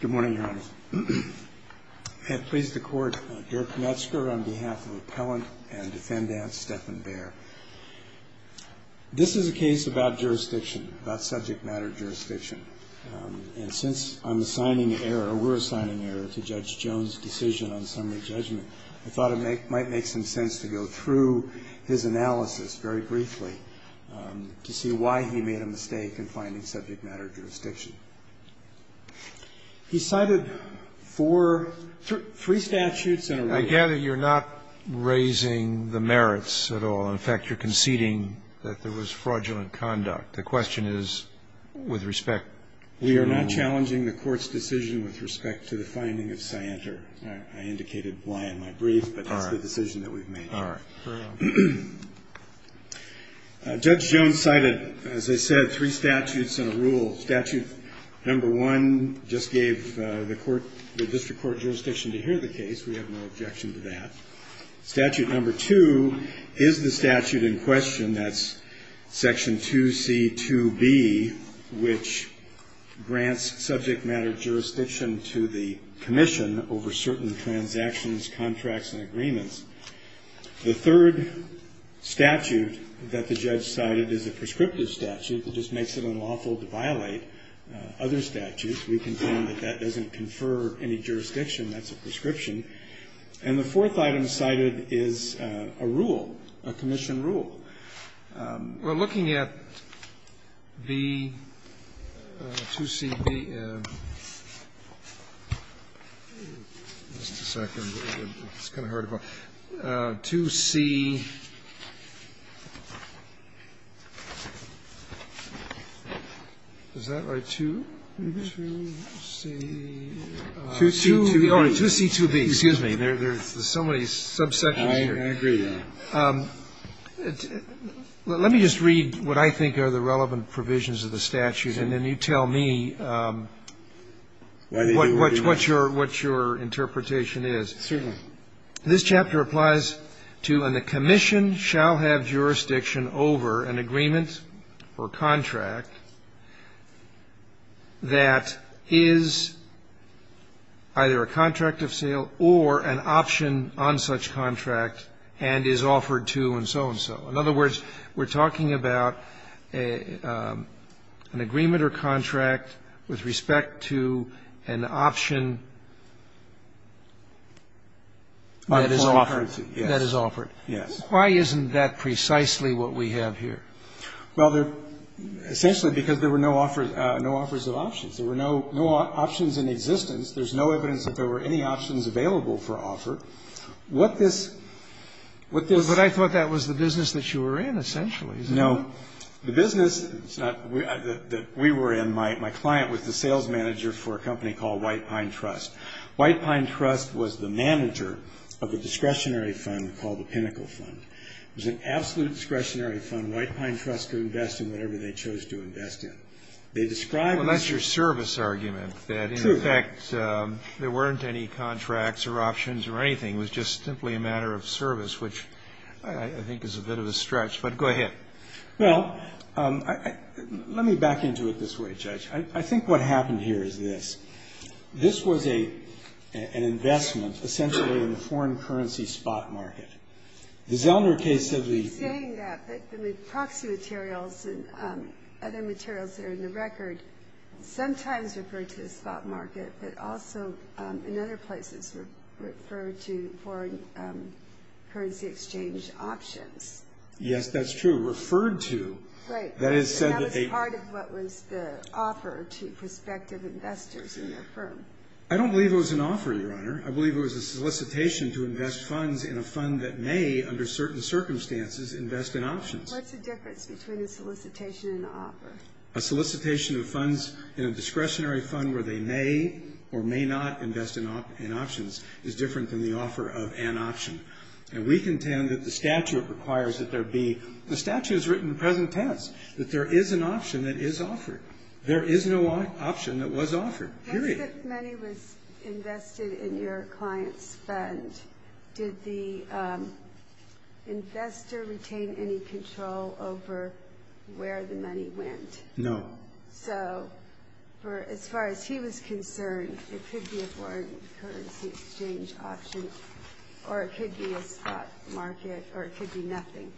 Good morning, Your Honor. I have pleased the Court, Derek Metzger, on behalf of Appellant and Defendant Stephan Baere. This is a case about jurisdiction, about subject matter jurisdiction. And since I'm assigning error, or we're assigning error to Judge Jones' decision on summary judgment, I thought it might make some sense to go through his analysis very briefly to see why he made a mistake in finding subject matter jurisdiction. He cited four, three statutes and a rule. I gather you're not raising the merits at all. In fact, you're conceding that there was fraudulent conduct. The question is, with respect to the rule. I'm not raising the merits of my brief, but that's the decision that we've made. Judge Jones cited, as I said, three statutes and a rule. Statute number one just gave the court, the district court jurisdiction to hear the case. We have no objection to that. Statute number two is the statute in question. That's section 2C2B, which grants subject matter jurisdiction to the commission over certain transactions, contracts, and agreements. The third statute that the judge cited is a prescriptive statute. It just makes it unlawful to violate other statutes. We can claim that that doesn't confer any jurisdiction. That's a prescription. And the fourth item cited is a rule, a commission rule. Well, looking at the 2C, just a second. It's kind of hard to follow. 2C, is that right, 2? 2C. 2C2B. Excuse me. There's so many subsections here. I agree, Your Honor. Let me just read what I think are the relevant provisions of the statute, and then you tell me what your interpretation is. Certainly. This chapter applies to, and the commission shall have jurisdiction over an agreement or contract that is either a contract of sale or an option on such contract and is offered to and so-and-so. In other words, we're talking about an agreement or contract with respect to an option that is offered. Yes. Why isn't that precisely what we have here? Well, they're essentially because there were no offers of options. There were no options in existence. There's no evidence that there were any options available for offer. What this -- But I thought that was the business that you were in, essentially. No. The business that we were in, my client was the sales manager for a company called White Pine Trust. White Pine Trust was the manager of a discretionary fund called the Pinnacle Fund. It was an absolute discretionary fund. White Pine Trust could invest in whatever they chose to invest in. They described this- Well, that's your service argument. True. That, in fact, there weren't any contracts or options or anything. It was just simply a matter of service, which I think is a bit of a stretch. But go ahead. Well, let me back into it this way, Judge. I think what happened here is this. This was an investment essentially in the foreign currency spot market. The Zellner case of the- You're saying that. But the proxy materials and other materials that are in the record sometimes refer to the spot market, but also in other places refer to foreign currency exchange options. Yes, that's true. Referred to. Right. That is said to be- That was part of what was the offer to prospective investors in their firm. I don't believe it was an offer, Your Honor. I believe it was a solicitation to invest funds in a fund that may, under certain circumstances, invest in options. What's the difference between a solicitation and an offer? A solicitation of funds in a discretionary fund where they may or may not invest in options is different than the offer of an option. And we contend that the statute requires that there be- The statute is written in present tense, that there is an option that is offered. There is no option that was offered, period. If the money was invested in your client's fund, did the investor retain any control over where the money went? No. So, as far as he was concerned, it could be a foreign currency exchange option, or it could be a spot market, or it could be nothing.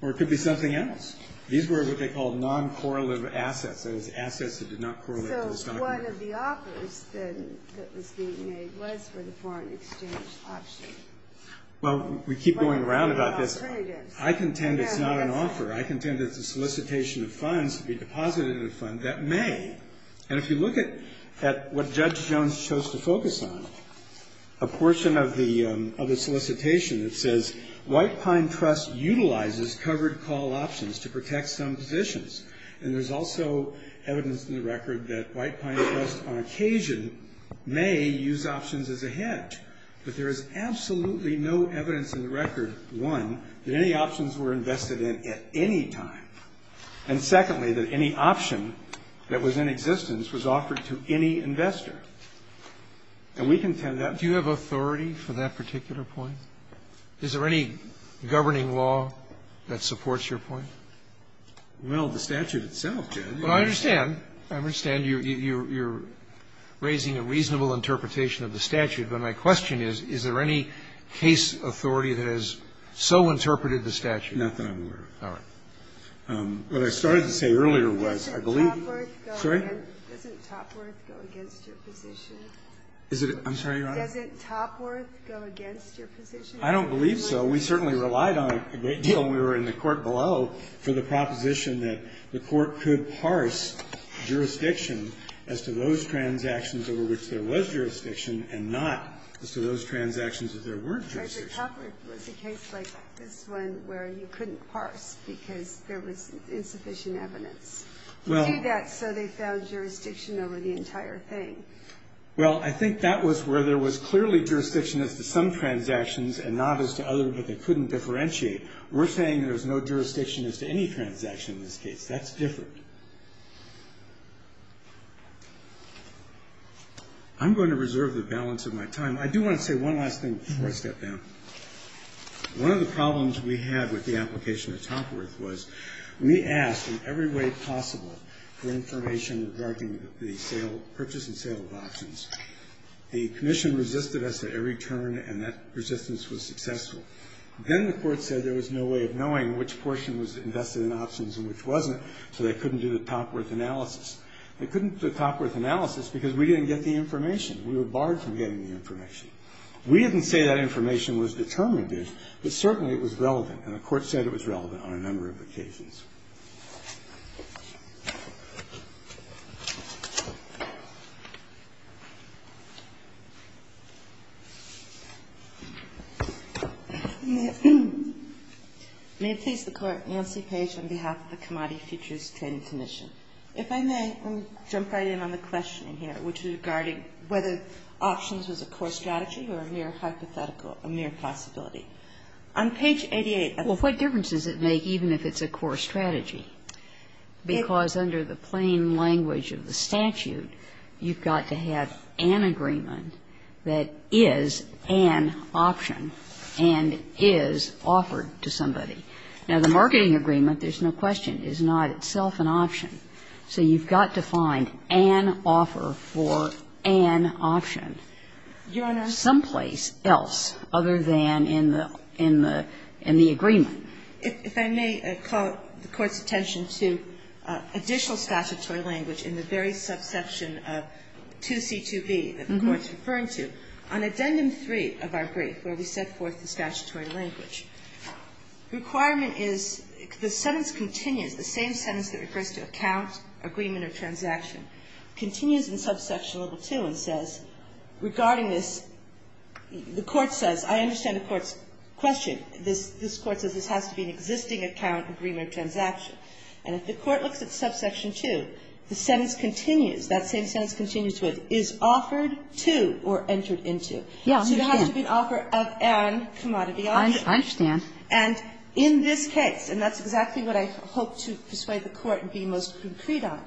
Or it could be something else. These were what they called non-correlative assets, that is, assets that did not correlate to the stock market. And what of the offers that was being made was for the foreign exchange option? Well, we keep going around about this. I contend it's not an offer. I contend it's a solicitation of funds to be deposited in a fund that may. And if you look at what Judge Jones chose to focus on, a portion of the solicitation that says, White Pine Trust utilizes covered call options to protect some positions. And there's also evidence in the record that White Pine Trust on occasion may use options as a hedge. But there is absolutely no evidence in the record, one, that any options were invested in at any time. And secondly, that any option that was in existence was offered to any investor. And we contend that. Do you have authority for that particular point? Is there any governing law that supports your point? Well, the statute itself, Judge. Well, I understand. I understand you're raising a reasonable interpretation of the statute. But my question is, is there any case authority that has so interpreted the statute? Not that I'm aware of. All right. What I started to say earlier was, I believe you're right. Doesn't Topworth go against your position? I'm sorry, Your Honor? Doesn't Topworth go against your position? I don't believe so. We certainly relied on it a great deal when we were in the court below. For the proposition that the court could parse jurisdiction as to those transactions over which there was jurisdiction and not as to those transactions where there weren't jurisdiction. But Topworth was a case like this one where you couldn't parse because there was insufficient evidence. You do that so they found jurisdiction over the entire thing. Well, I think that was where there was clearly jurisdiction as to some transactions and not as to others, but they couldn't differentiate. We're saying there's no jurisdiction as to any transaction in this case. That's different. I'm going to reserve the balance of my time. I do want to say one last thing before I step down. One of the problems we had with the application of Topworth was we asked in every way possible for information regarding the purchase and sale of options. The commission resisted us at every turn, and that resistance was successful. Then the court said there was no way of knowing which portion was invested in options and which wasn't, so they couldn't do the Topworth analysis. They couldn't do the Topworth analysis because we didn't get the information. We were barred from getting the information. We didn't say that information was determinative, but certainly it was relevant, And the court said it was relevant on a number of occasions. May it please the Court. Nancy Page on behalf of the Commodity Futures Trading Commission. If I may, let me jump right in on the questioning here, which is regarding whether options was a core strategy or a mere hypothetical, a mere possibility. On page 88. Well, what difference does it make even if it's a core strategy? Because under the plain language of the statute, you've got to have an agreement that is an option and is offered to somebody. Now, the marketing agreement, there's no question, is not itself an option. So you've got to find an offer for an option. Your Honor. But the question is, does the court have some place else other than in the agreement? If I may call the Court's attention to additional statutory language in the very subsection of 2C2B that the Court's referring to. On Addendum 3 of our brief where we set forth the statutory language, requirement is the sentence continues, the same sentence that refers to account, agreement or transaction, continues in subsection level 2 and says, regarding this, the Court says, I understand the Court's question. This Court says this has to be an existing account, agreement or transaction. And if the Court looks at subsection 2, the sentence continues, that same sentence continues to it, is offered to or entered into. So it has to be an offer of an commodity option. I understand. And in this case, and that's exactly what I hope to persuade the Court to be most concrete on,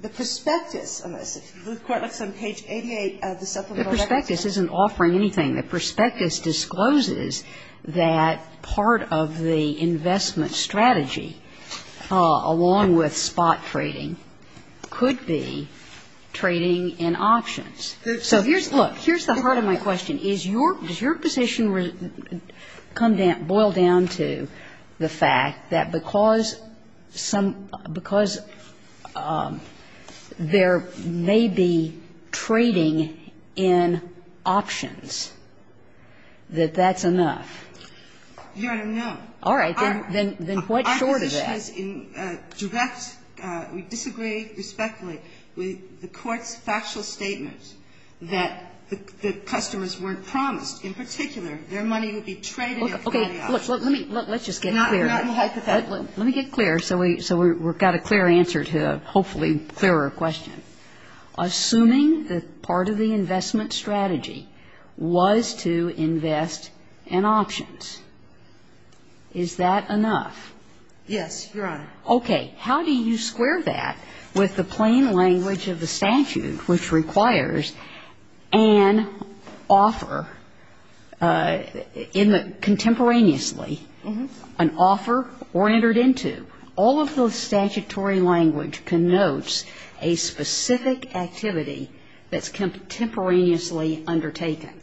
the prospectus, unless the Court looks on page 88 of the supplemental records. Kagan. The prospectus isn't offering anything. The prospectus discloses that part of the investment strategy, along with spot trading, could be trading in options. So here's, look, here's the heart of my question. Does your position come down, boil down to the fact that because some, because there may be trading in options, that that's enough? Your Honor, no. All right. Then what short of that? Our position is in direct, we disagree respectfully with the Court's factual statements that the customers weren't promised. In particular, their money would be traded in commodity options. Okay. Let's just get clear. Not in the hypothetical. Let me get clear so we've got a clear answer to a hopefully clearer question. Assuming that part of the investment strategy was to invest in options, is that enough? Yes, Your Honor. Okay. How do you square that with the plain language of the statute, which requires an offer in the contemporaneously, an offer or entered into? All of the statutory language connotes a specific activity that's contemporaneously undertaken,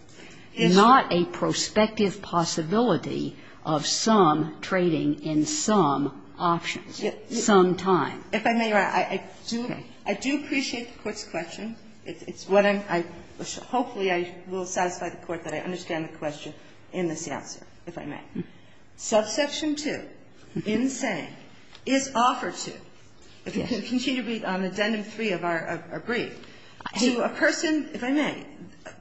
not a prospective possibility of some trading in some options, some time. If I may, Your Honor, I do appreciate the Court's question. It's what I'm, hopefully I will satisfy the Court that I understand the question in this answer, if I may. Subsection 2, in the same, is offered to, if you continue to read on Addendum 3 of our brief, to a person, if I may,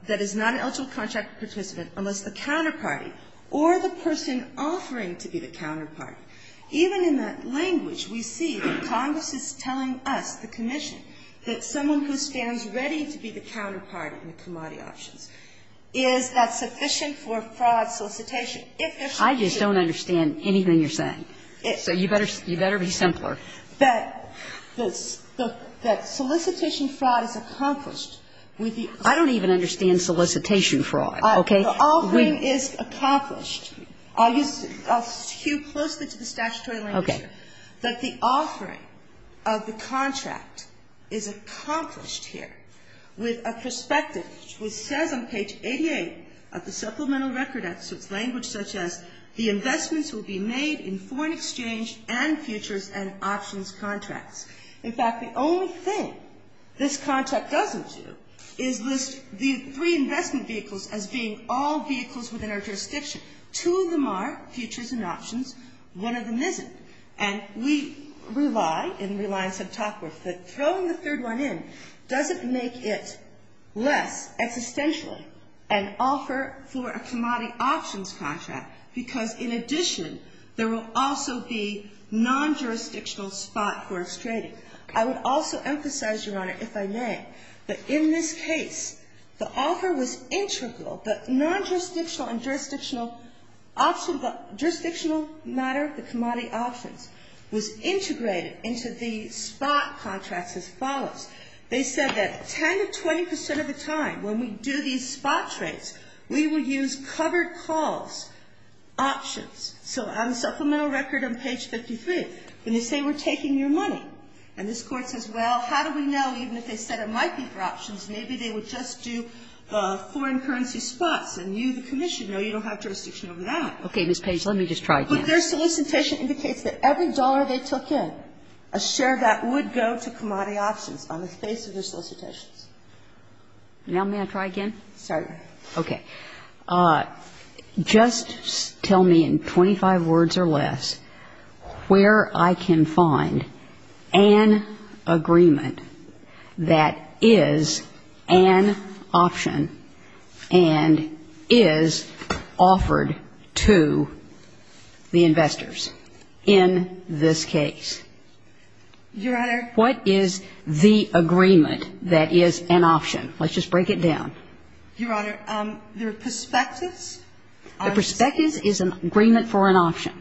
that is not an eligible contract participant unless the counterparty or the person offering to be the counterparty. Even in that language, we see that Congress is telling us, the Commission, that someone who stands ready to be the counterparty in the commodity options is that sufficient for fraud solicitation. I just don't understand anything you're saying. So you better be simpler. That solicitation fraud is accomplished with the offering. I don't even understand solicitation fraud, okay? The offering is accomplished. I'll use, I'll skew closely to the statutory language here. Okay. That the offering of the contract is accomplished here with a prospective, which says on page 88 of the Supplemental Record Act, so it's language such as, the investments will be made in foreign exchange and futures and options contracts. In fact, the only thing this contract doesn't do is list the three investment vehicles as being all vehicles within our jurisdiction. Two of them are futures and options. One of them isn't. And we rely, in Reliance and Topworth, that throwing the third one in doesn't make it less existentially an offer for a commodity options contract, because in addition, there will also be non-jurisdictional spot for its trading. I would also emphasize, Your Honor, if I may, that in this case, the offer was integral. The non-jurisdictional and jurisdictional option, jurisdictional matter, the commodity options, was integrated into the spot contracts as follows. They said that 10 to 20 percent of the time when we do these spot trades, we will use covered calls, options. So on the Supplemental Record on page 53, when they say we're taking your money and this Court says, well, how do we know, even if they said it might be for options, maybe they would just do foreign currency spots and you, the commission, know you don't have jurisdiction over that. Kagan. Okay. Ms. Page, let me just try again. But their solicitation indicates that every dollar they took in, a share of that would go to commodity options on the basis of their solicitations. Now may I try again? Sorry, Your Honor. Okay. Just tell me in 25 words or less where I can find an agreement that is an option and is offered to the investors in this case. Your Honor. What is the agreement that is an option? Let's just break it down. Your Honor, the prospectus. The prospectus is an agreement for an option.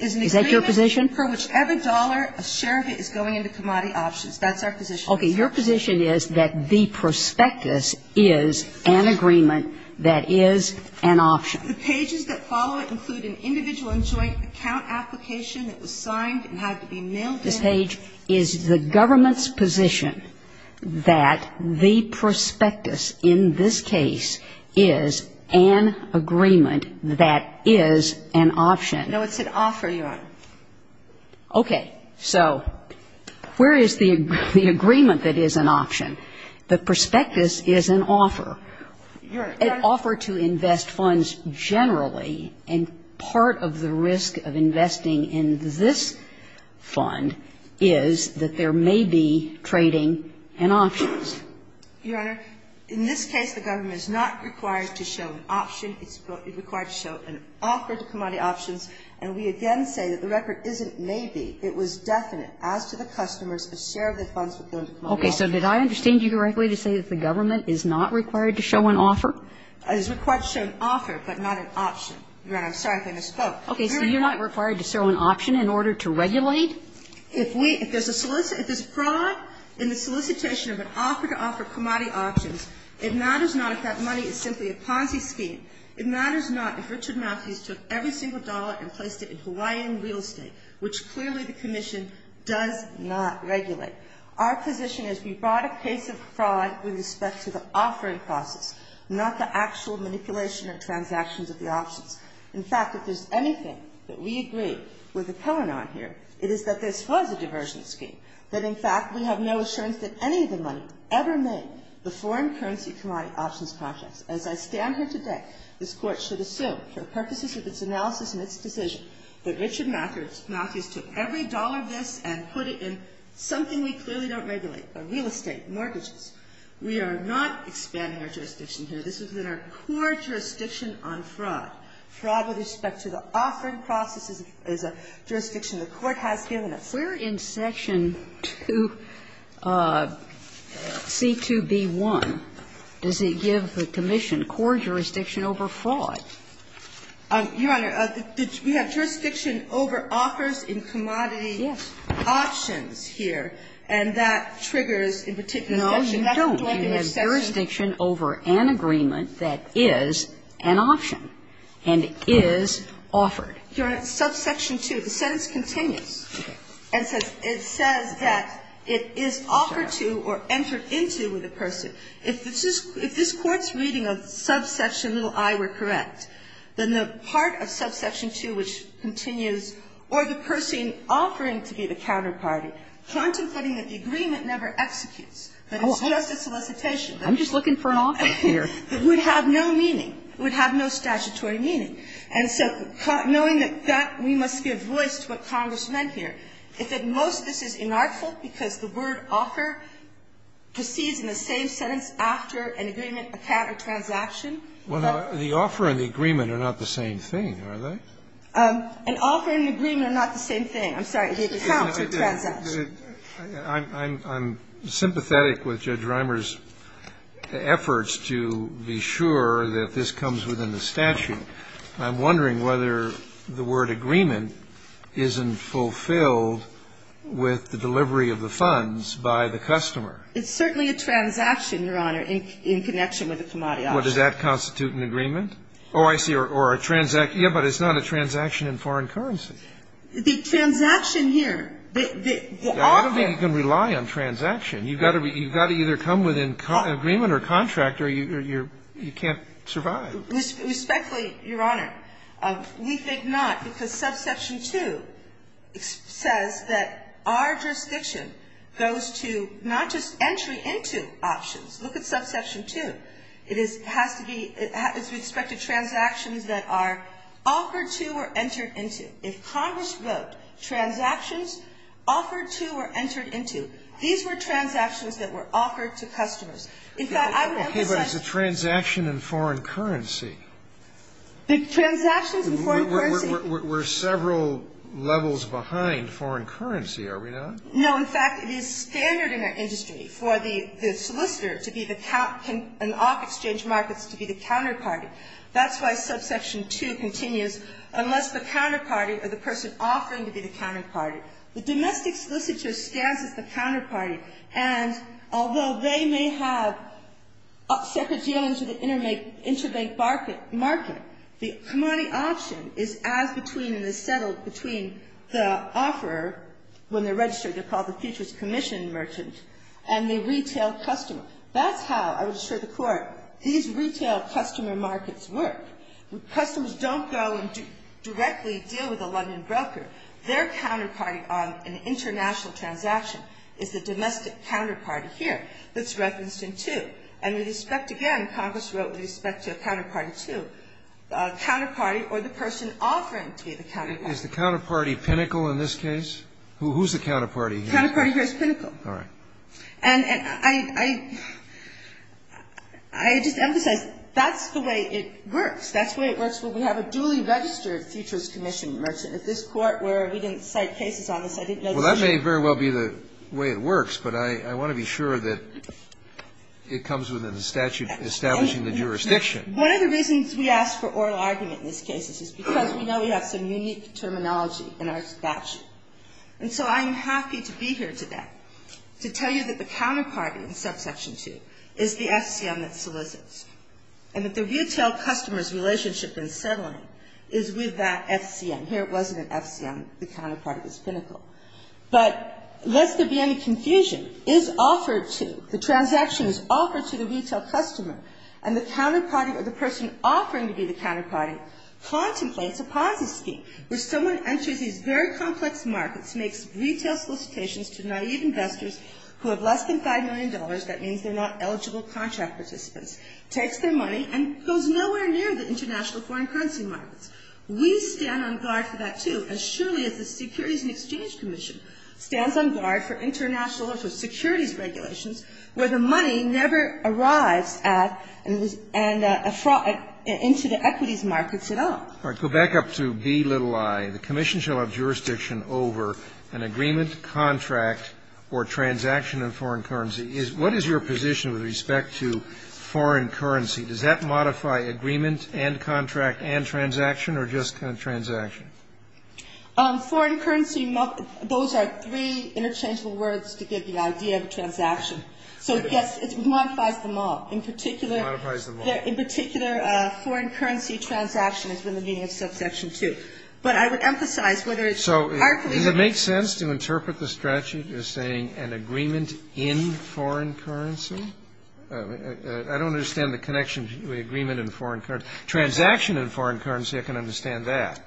Is that your position? Is an agreement for whichever dollar a share of it is going into commodity options. That's our position. Okay. Your position is that the prospectus is an agreement that is an option. The pages that follow it include an individual and joint account application that was signed and had to be mailed in. Ms. Page, is the government's position that the prospectus in this case is an agreement that is an option? No, it's an offer, Your Honor. Okay. So where is the agreement that is an option? The prospectus is an offer. Your Honor. An offer to invest funds generally, and part of the risk of investing in this fund is that there may be trading and options. Your Honor, in this case, the government is not required to show an option. It's required to show an offer to commodity options. And we again say that the record isn't maybe. It was definite. Okay. So did I understand you correctly to say that the government is not required to show an offer? It is required to show an offer, but not an option. Your Honor, I'm sorry if I misspoke. Okay. So you're not required to show an option in order to regulate? If we, if there's a solicitation, if there's a fraud in the solicitation of an offer to offer commodity options, it matters not if that money is simply a Ponzi scheme. It matters not if Richard Malthus took every single dollar and placed it in Hawaiian real estate, which clearly the commission does not regulate. Our position is we brought a case of fraud with respect to the offering process, not the actual manipulation or transactions of the options. In fact, if there's anything that we agree with the Cohen on here, it is that this was a diversion scheme, that, in fact, we have no assurance that any of the money ever made the foreign currency commodity options projects. As I stand here today, this Court should assume for purposes of its analysis and its decision that Richard Malthus took every dollar of this and put it in something we clearly don't regulate, real estate, mortgages. We are not expanding our jurisdiction here. This is in our core jurisdiction on fraud. Fraud with respect to the offering process is a jurisdiction the Court has given us. We're in section 2C2B1. Does it give the commission core jurisdiction over fraud? Your Honor, we have jurisdiction over offers in commodity options here. And that triggers, in particular, a section. Kagan. No, you don't. You have jurisdiction over an agreement that is an option and is offered. Your Honor, subsection 2, the sentence continues. It says that it is offered to or entered into with the person. If this Court's reading of subsection little i were correct, then the part of subsection 2, which continues, or the person offering to be the counterparty, contemplating that the agreement never executes, that it's just a solicitation. I'm just looking for an offer here. It would have no meaning. It would have no statutory meaning. And so knowing that that, we must give voice to what Congress meant here. If at most this is inartful because the word offer proceeds in the same sentence after an agreement, a contract, or transaction. Well, the offer and the agreement are not the same thing, are they? An offer and an agreement are not the same thing. I'm sorry, the account or the transaction. I'm sympathetic with Judge Reimer's efforts to be sure that this comes within the statute. I'm wondering whether the word agreement isn't fulfilled with the delivery of the funds by the customer. It's certainly a transaction, Your Honor, in connection with a commodity offer. Well, does that constitute an agreement? Oh, I see. Or a transaction. Yes, but it's not a transaction in foreign currency. The transaction here, the offer. You can rely on transaction. You've got to either come within agreement or contract or you can't survive. Respectfully, Your Honor, we think not, because subsection 2 says that our jurisdiction goes to not just entry into options. Look at subsection 2. It has to be as we expect it, transactions that are offered to or entered into. If Congress wrote transactions offered to or entered into, these were transactions that were offered to customers. In fact, I would emphasize that. Okay, but it's a transaction in foreign currency. Transactions in foreign currency. We're several levels behind foreign currency, are we not? No, in fact, it is standard in our industry for the solicitor to be the account and the off-exchange markets to be the counterparty. That's why subsection 2 continues, unless the counterparty or the person offering to be the counterparty. The domestic solicitor stands as the counterparty, and although they may have second dealings with the interbank market, the commodity option is as between and is settled between the offeror, when they're registered, they're called the futures commission merchant, and the retail customer. That's how, I would assure the Court, these retail customer markets work. Customers don't go and directly deal with a London broker. Their counterparty on an international transaction is the domestic counterparty here that's referenced in 2. And with respect, again, Congress wrote with respect to counterparty 2, counterparty or the person offering to be the counterparty. Is the counterparty pinnacle in this case? Who's the counterparty here? The counterparty here is pinnacle. All right. And I just emphasize, that's the way it works. That's the way it works when we have a duly registered futures commission merchant. At this Court, where we didn't cite cases on this, I didn't know the issue. Well, that may very well be the way it works, but I want to be sure that it comes within the statute establishing the jurisdiction. One of the reasons we ask for oral argument in this case is because we know we have some unique terminology in our statute. And so I'm happy to be here today to tell you that the counterparty in subsection 2 is the FCM that solicits. And that the retail customer's relationship in settling is with that FCM. Here it wasn't an FCM. The counterparty was pinnacle. But lest there be any confusion, is offered to, the transaction is offered to the retail customer, and the counterparty or the person offering to be the counterparty contemplates a POSSE scheme, where someone enters these very complex markets, makes retail solicitations to naive investors who have less than $5 million, that means they're not eligible contract participants, takes their money, and goes nowhere near the international foreign currency markets. We stand on guard for that, too, as surely as the Securities and Exchange Commission stands on guard for international or for securities regulations, where the money never arrives at and into the equities markets at all. All right. Go back up to B little i. The commission shall have jurisdiction over an agreement, contract, or transaction in foreign currency. What is your position with respect to foreign currency? Does that modify agreement and contract and transaction or just transaction? Foreign currency, those are three interchangeable words to give you an idea of a transaction. So, yes, it modifies them all. In particular, foreign currency transaction has been the meaning of subsection 2. But I would emphasize whether it's artfully used. So does it make sense to interpret the statute as saying an agreement in foreign currency? I don't understand the connection between agreement and foreign currency. Transaction in foreign currency, I can understand that.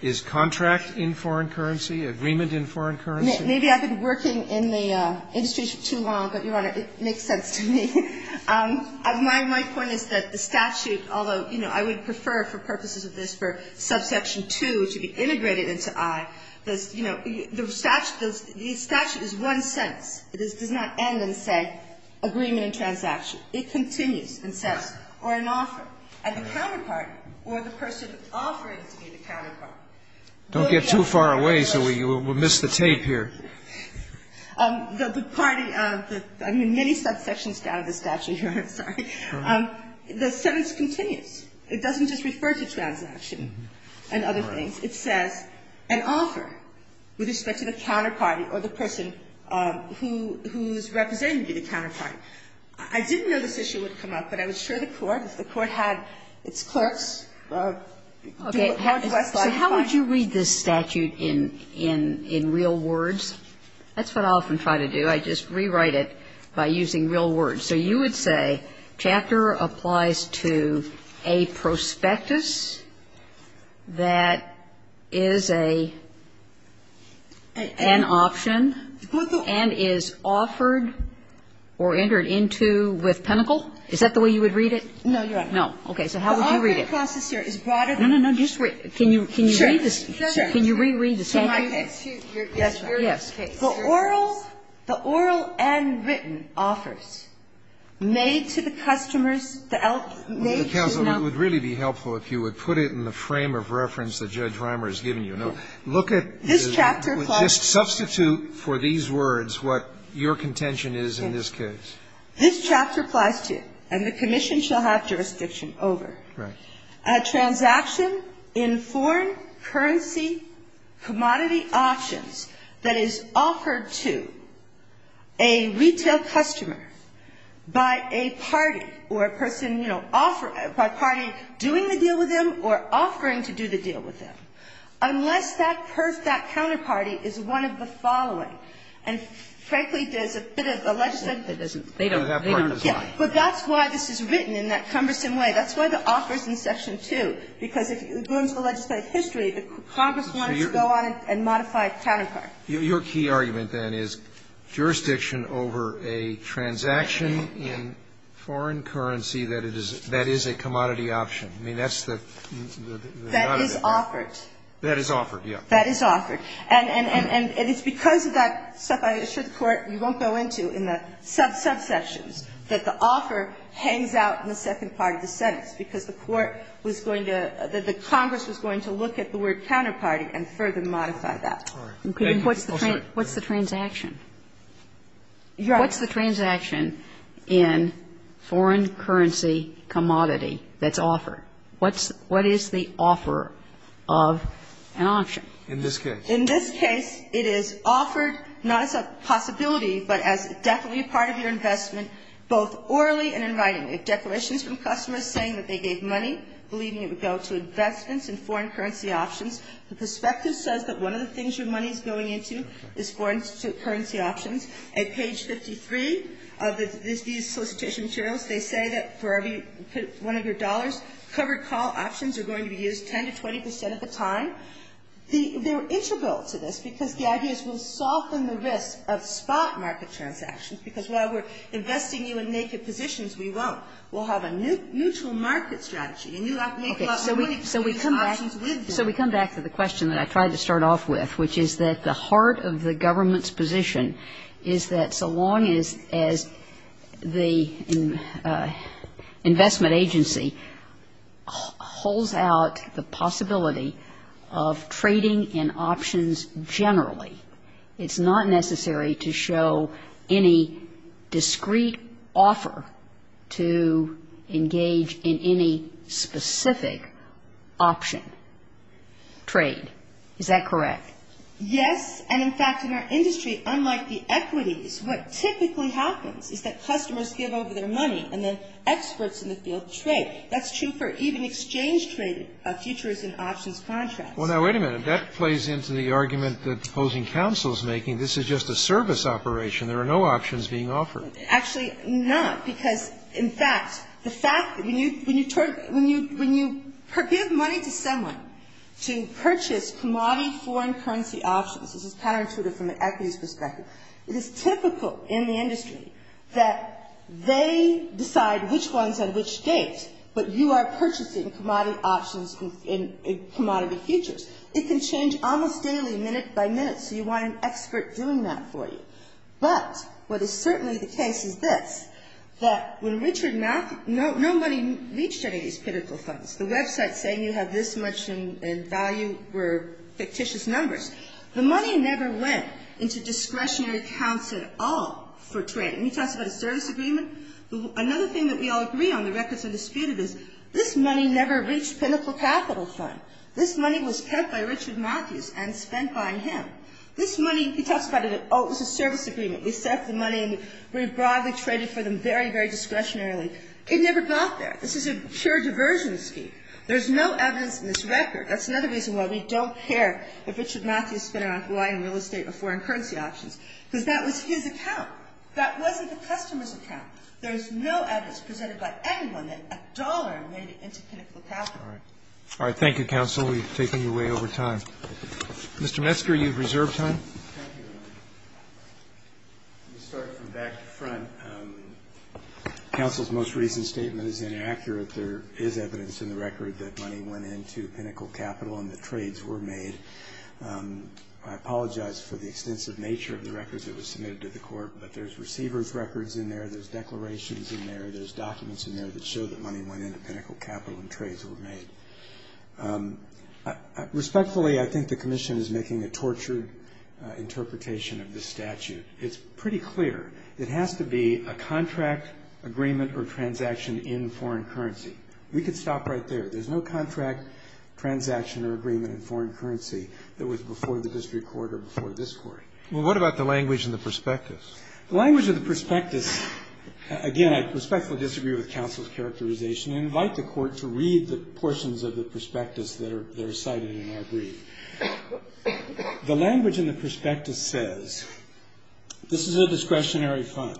Is contract in foreign currency, agreement in foreign currency? Maybe I've been working in the industry for too long, but, Your Honor, it makes sense to me. My point is that the statute, although, you know, I would prefer for purposes of this for subsection 2 to be integrated into i. You know, the statute is one sentence. It does not end and say agreement and transaction. It continues and says or an offer at the counterpart or the person offering to be the counterpart. Don't get too far away, so we'll miss the tape here. The party, I mean, many subsections down in the statute, Your Honor. Sorry. The sentence continues. It doesn't just refer to transaction and other things. It says an offer with respect to the counterpart or the person who's representing to be the counterpart. I didn't know this issue would come up, but I was sure the Court, if the Court had its clerks. Okay. So how would you read this statute in real words? That's what I often try to do. I just rewrite it by using real words. So you would say chapter applies to a prospectus that is an option and is offered or entered into with pinnacle? Is that the way you would read it? No, Your Honor. Okay. So how would you read it? No, no, no. Just wait. Can you read this? Can you reread the statute? Yes, Your Honor. Yes. The oral and written offers made to the customers, made to the customers. Counsel, it would really be helpful if you would put it in the frame of reference that Judge Reimer has given you. No. Look at this. This chapter applies to. Just substitute for these words what your contention is in this case. This chapter applies to, and the commission shall have jurisdiction over. Right. A transaction in foreign currency commodity options that is offered to a retail customer by a party or a person, you know, by a party doing the deal with them or offering to do the deal with them, unless that counterparty is one of the following. And frankly, there's a bit of a legislative. They don't. They don't apply. But that's why this is written in that cumbersome way. That's why the offer is in Section 2, because it ruins the legislative history. Congress wanted to go on and modify a counterpart. Your key argument, then, is jurisdiction over a transaction in foreign currency that is a commodity option. I mean, that's the. That is offered. That is offered, yes. That is offered. And it's because of that stuff, I assure the Court, you won't go into in the sub-subsections, that the offer hangs out in the second part of the sentence, because the Court was going to the Congress was going to look at the word counterparty and further modify that. Sotomayor, what's the transaction? What's the transaction in foreign currency commodity that's offered? What is the offer of an option? In this case. In this case, it is offered not as a possibility, but as definitely a part of your investment, both orally and in writing. It's declarations from customers saying that they gave money, believing it would go to investments in foreign currency options. The perspective says that one of the things your money is going into is foreign currency options. At page 53 of these solicitation materials, they say that for every one of your dollars, covered call options are going to be used 10 to 20 percent of the time. They're integral to this, because the idea is we'll soften the risk of spot market transactions, because while we're investing you in naked positions, we won't. We'll have a neutral market strategy. And you have to make a lot more money to do these options with them. So we come back to the question that I tried to start off with, which is that the heart of the government's position is that so long as the investment agency holds out the possibility of trading in options generally, it's not necessary to show any discreet offer to engage in any specific option. Trade. Is that correct? Yes. And, in fact, in our industry, unlike the equities, what typically happens is that customers give over their money, and then experts in the field trade. That's true for even exchange traded futures and options contracts. Well, now, wait a minute. That plays into the argument that opposing counsel is making. This is just a service operation. There are no options being offered. Actually, not, because, in fact, the fact that when you give money to someone to purchase commodity foreign currency options, this is counterintuitive from an equities perspective, it is typical in the industry that they decide which one's at which date, but you are purchasing commodity options and commodity futures. It can change almost daily, minute by minute, so you want an expert doing that for you. But what is certainly the case is this, that when Richard Malkin no money reached any of these critical funds, the websites saying you have this much in value were fictitious numbers. The money never went into discretionary accounts at all for trading. And he talks about a service agreement. Another thing that we all agree on, the records are disputed, is this money never reached Pinnacle Capital Fund. This money was kept by Richard Matthews and spent by him. This money, he talks about it, oh, it was a service agreement. We set up the money and we broadly traded for them very, very discretionarily. It never got there. This is a pure diversion scheme. There's no evidence in this record. That's another reason why we don't care if Richard Matthews spent it on Hawaiian real estate or foreign currency options, because that was his account. That wasn't the customer's account. There's no evidence presented by anyone that a dollar made it into Pinnacle Capital. All right. Thank you, counsel. We've taken you way over time. Mr. Metzger, you have reserved time. Thank you, Your Honor. Let me start from back to front. Counsel's most recent statement is inaccurate. There is evidence in the record that money went into Pinnacle Capital and the trades were made. I apologize for the extensive nature of the records that were submitted to the court, but there's receiver's records in there, there's declarations in there, there's documents in there that show that money went into Pinnacle Capital and trades were made. Respectfully, I think the commission is making a tortured interpretation of this statute. It's pretty clear. It has to be a contract, agreement, or transaction in foreign currency. We could stop right there. There's no contract, transaction, or agreement in foreign currency that was before the district court or before this court. Well, what about the language in the prospectus? The language of the prospectus, again, I respectfully disagree with counsel's characterization and invite the court to read the portions of the prospectus that are cited in our brief. The language in the prospectus says this is a discretionary fund.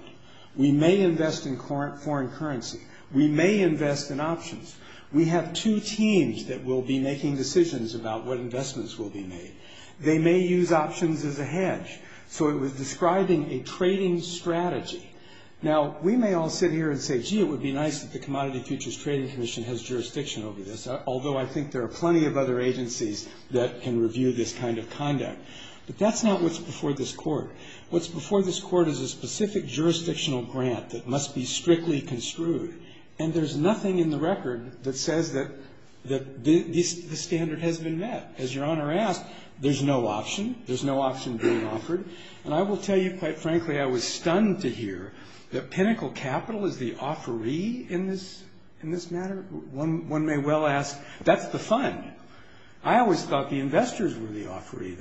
We may invest in foreign currency. We may invest in options. We have two teams that will be making decisions about what investments will be made. They may use options as a hedge. So it was describing a trading strategy. Now, we may all sit here and say, gee, it would be nice that the Commodity Futures Trading Commission has jurisdiction over this, although I think there are plenty of other agencies that can review this kind of conduct. But that's not what's before this court. What's before this court is a specific jurisdictional grant that must be strictly construed. And there's nothing in the record that says that the standard has been met. As Your Honor asked, there's no option. There's no option being offered. And I will tell you, quite frankly, I was stunned to hear that Pinnacle Capital is the offeree in this matter. One may well ask, that's the fund. I always thought the investors were the offeree,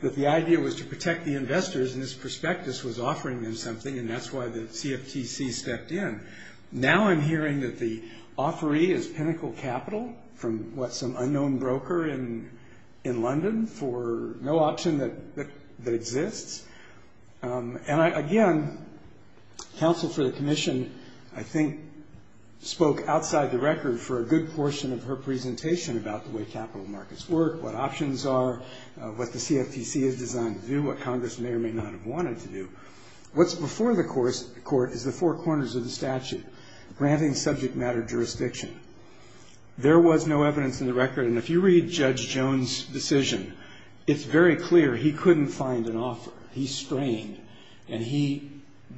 that the idea was to protect the investors, and this prospectus was offering them something, and that's why the CFTC stepped in. in London for no option that exists. And, again, counsel for the commission, I think, spoke outside the record for a good portion of her presentation about the way capital markets work, what options are, what the CFTC is designed to do, what Congress may or may not have wanted to do. What's before the court is the four corners of the statute, granting subject matter jurisdiction. There was no evidence in the record, and if you read Judge Jones' decision, it's very clear he couldn't find an offer. He strained, and he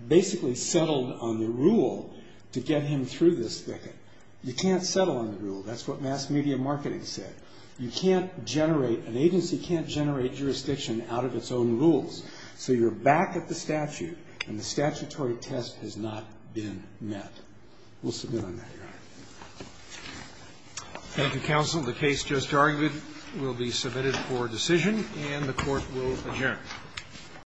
basically settled on the rule to get him through this thicket. You can't settle on the rule. That's what mass media marketing said. You can't generate, an agency can't generate jurisdiction out of its own rules. So you're back at the statute, and the statutory test has not been met. We'll submit on that, Your Honor. Thank you, counsel. The case just argued will be submitted for decision, and the court will adjourn.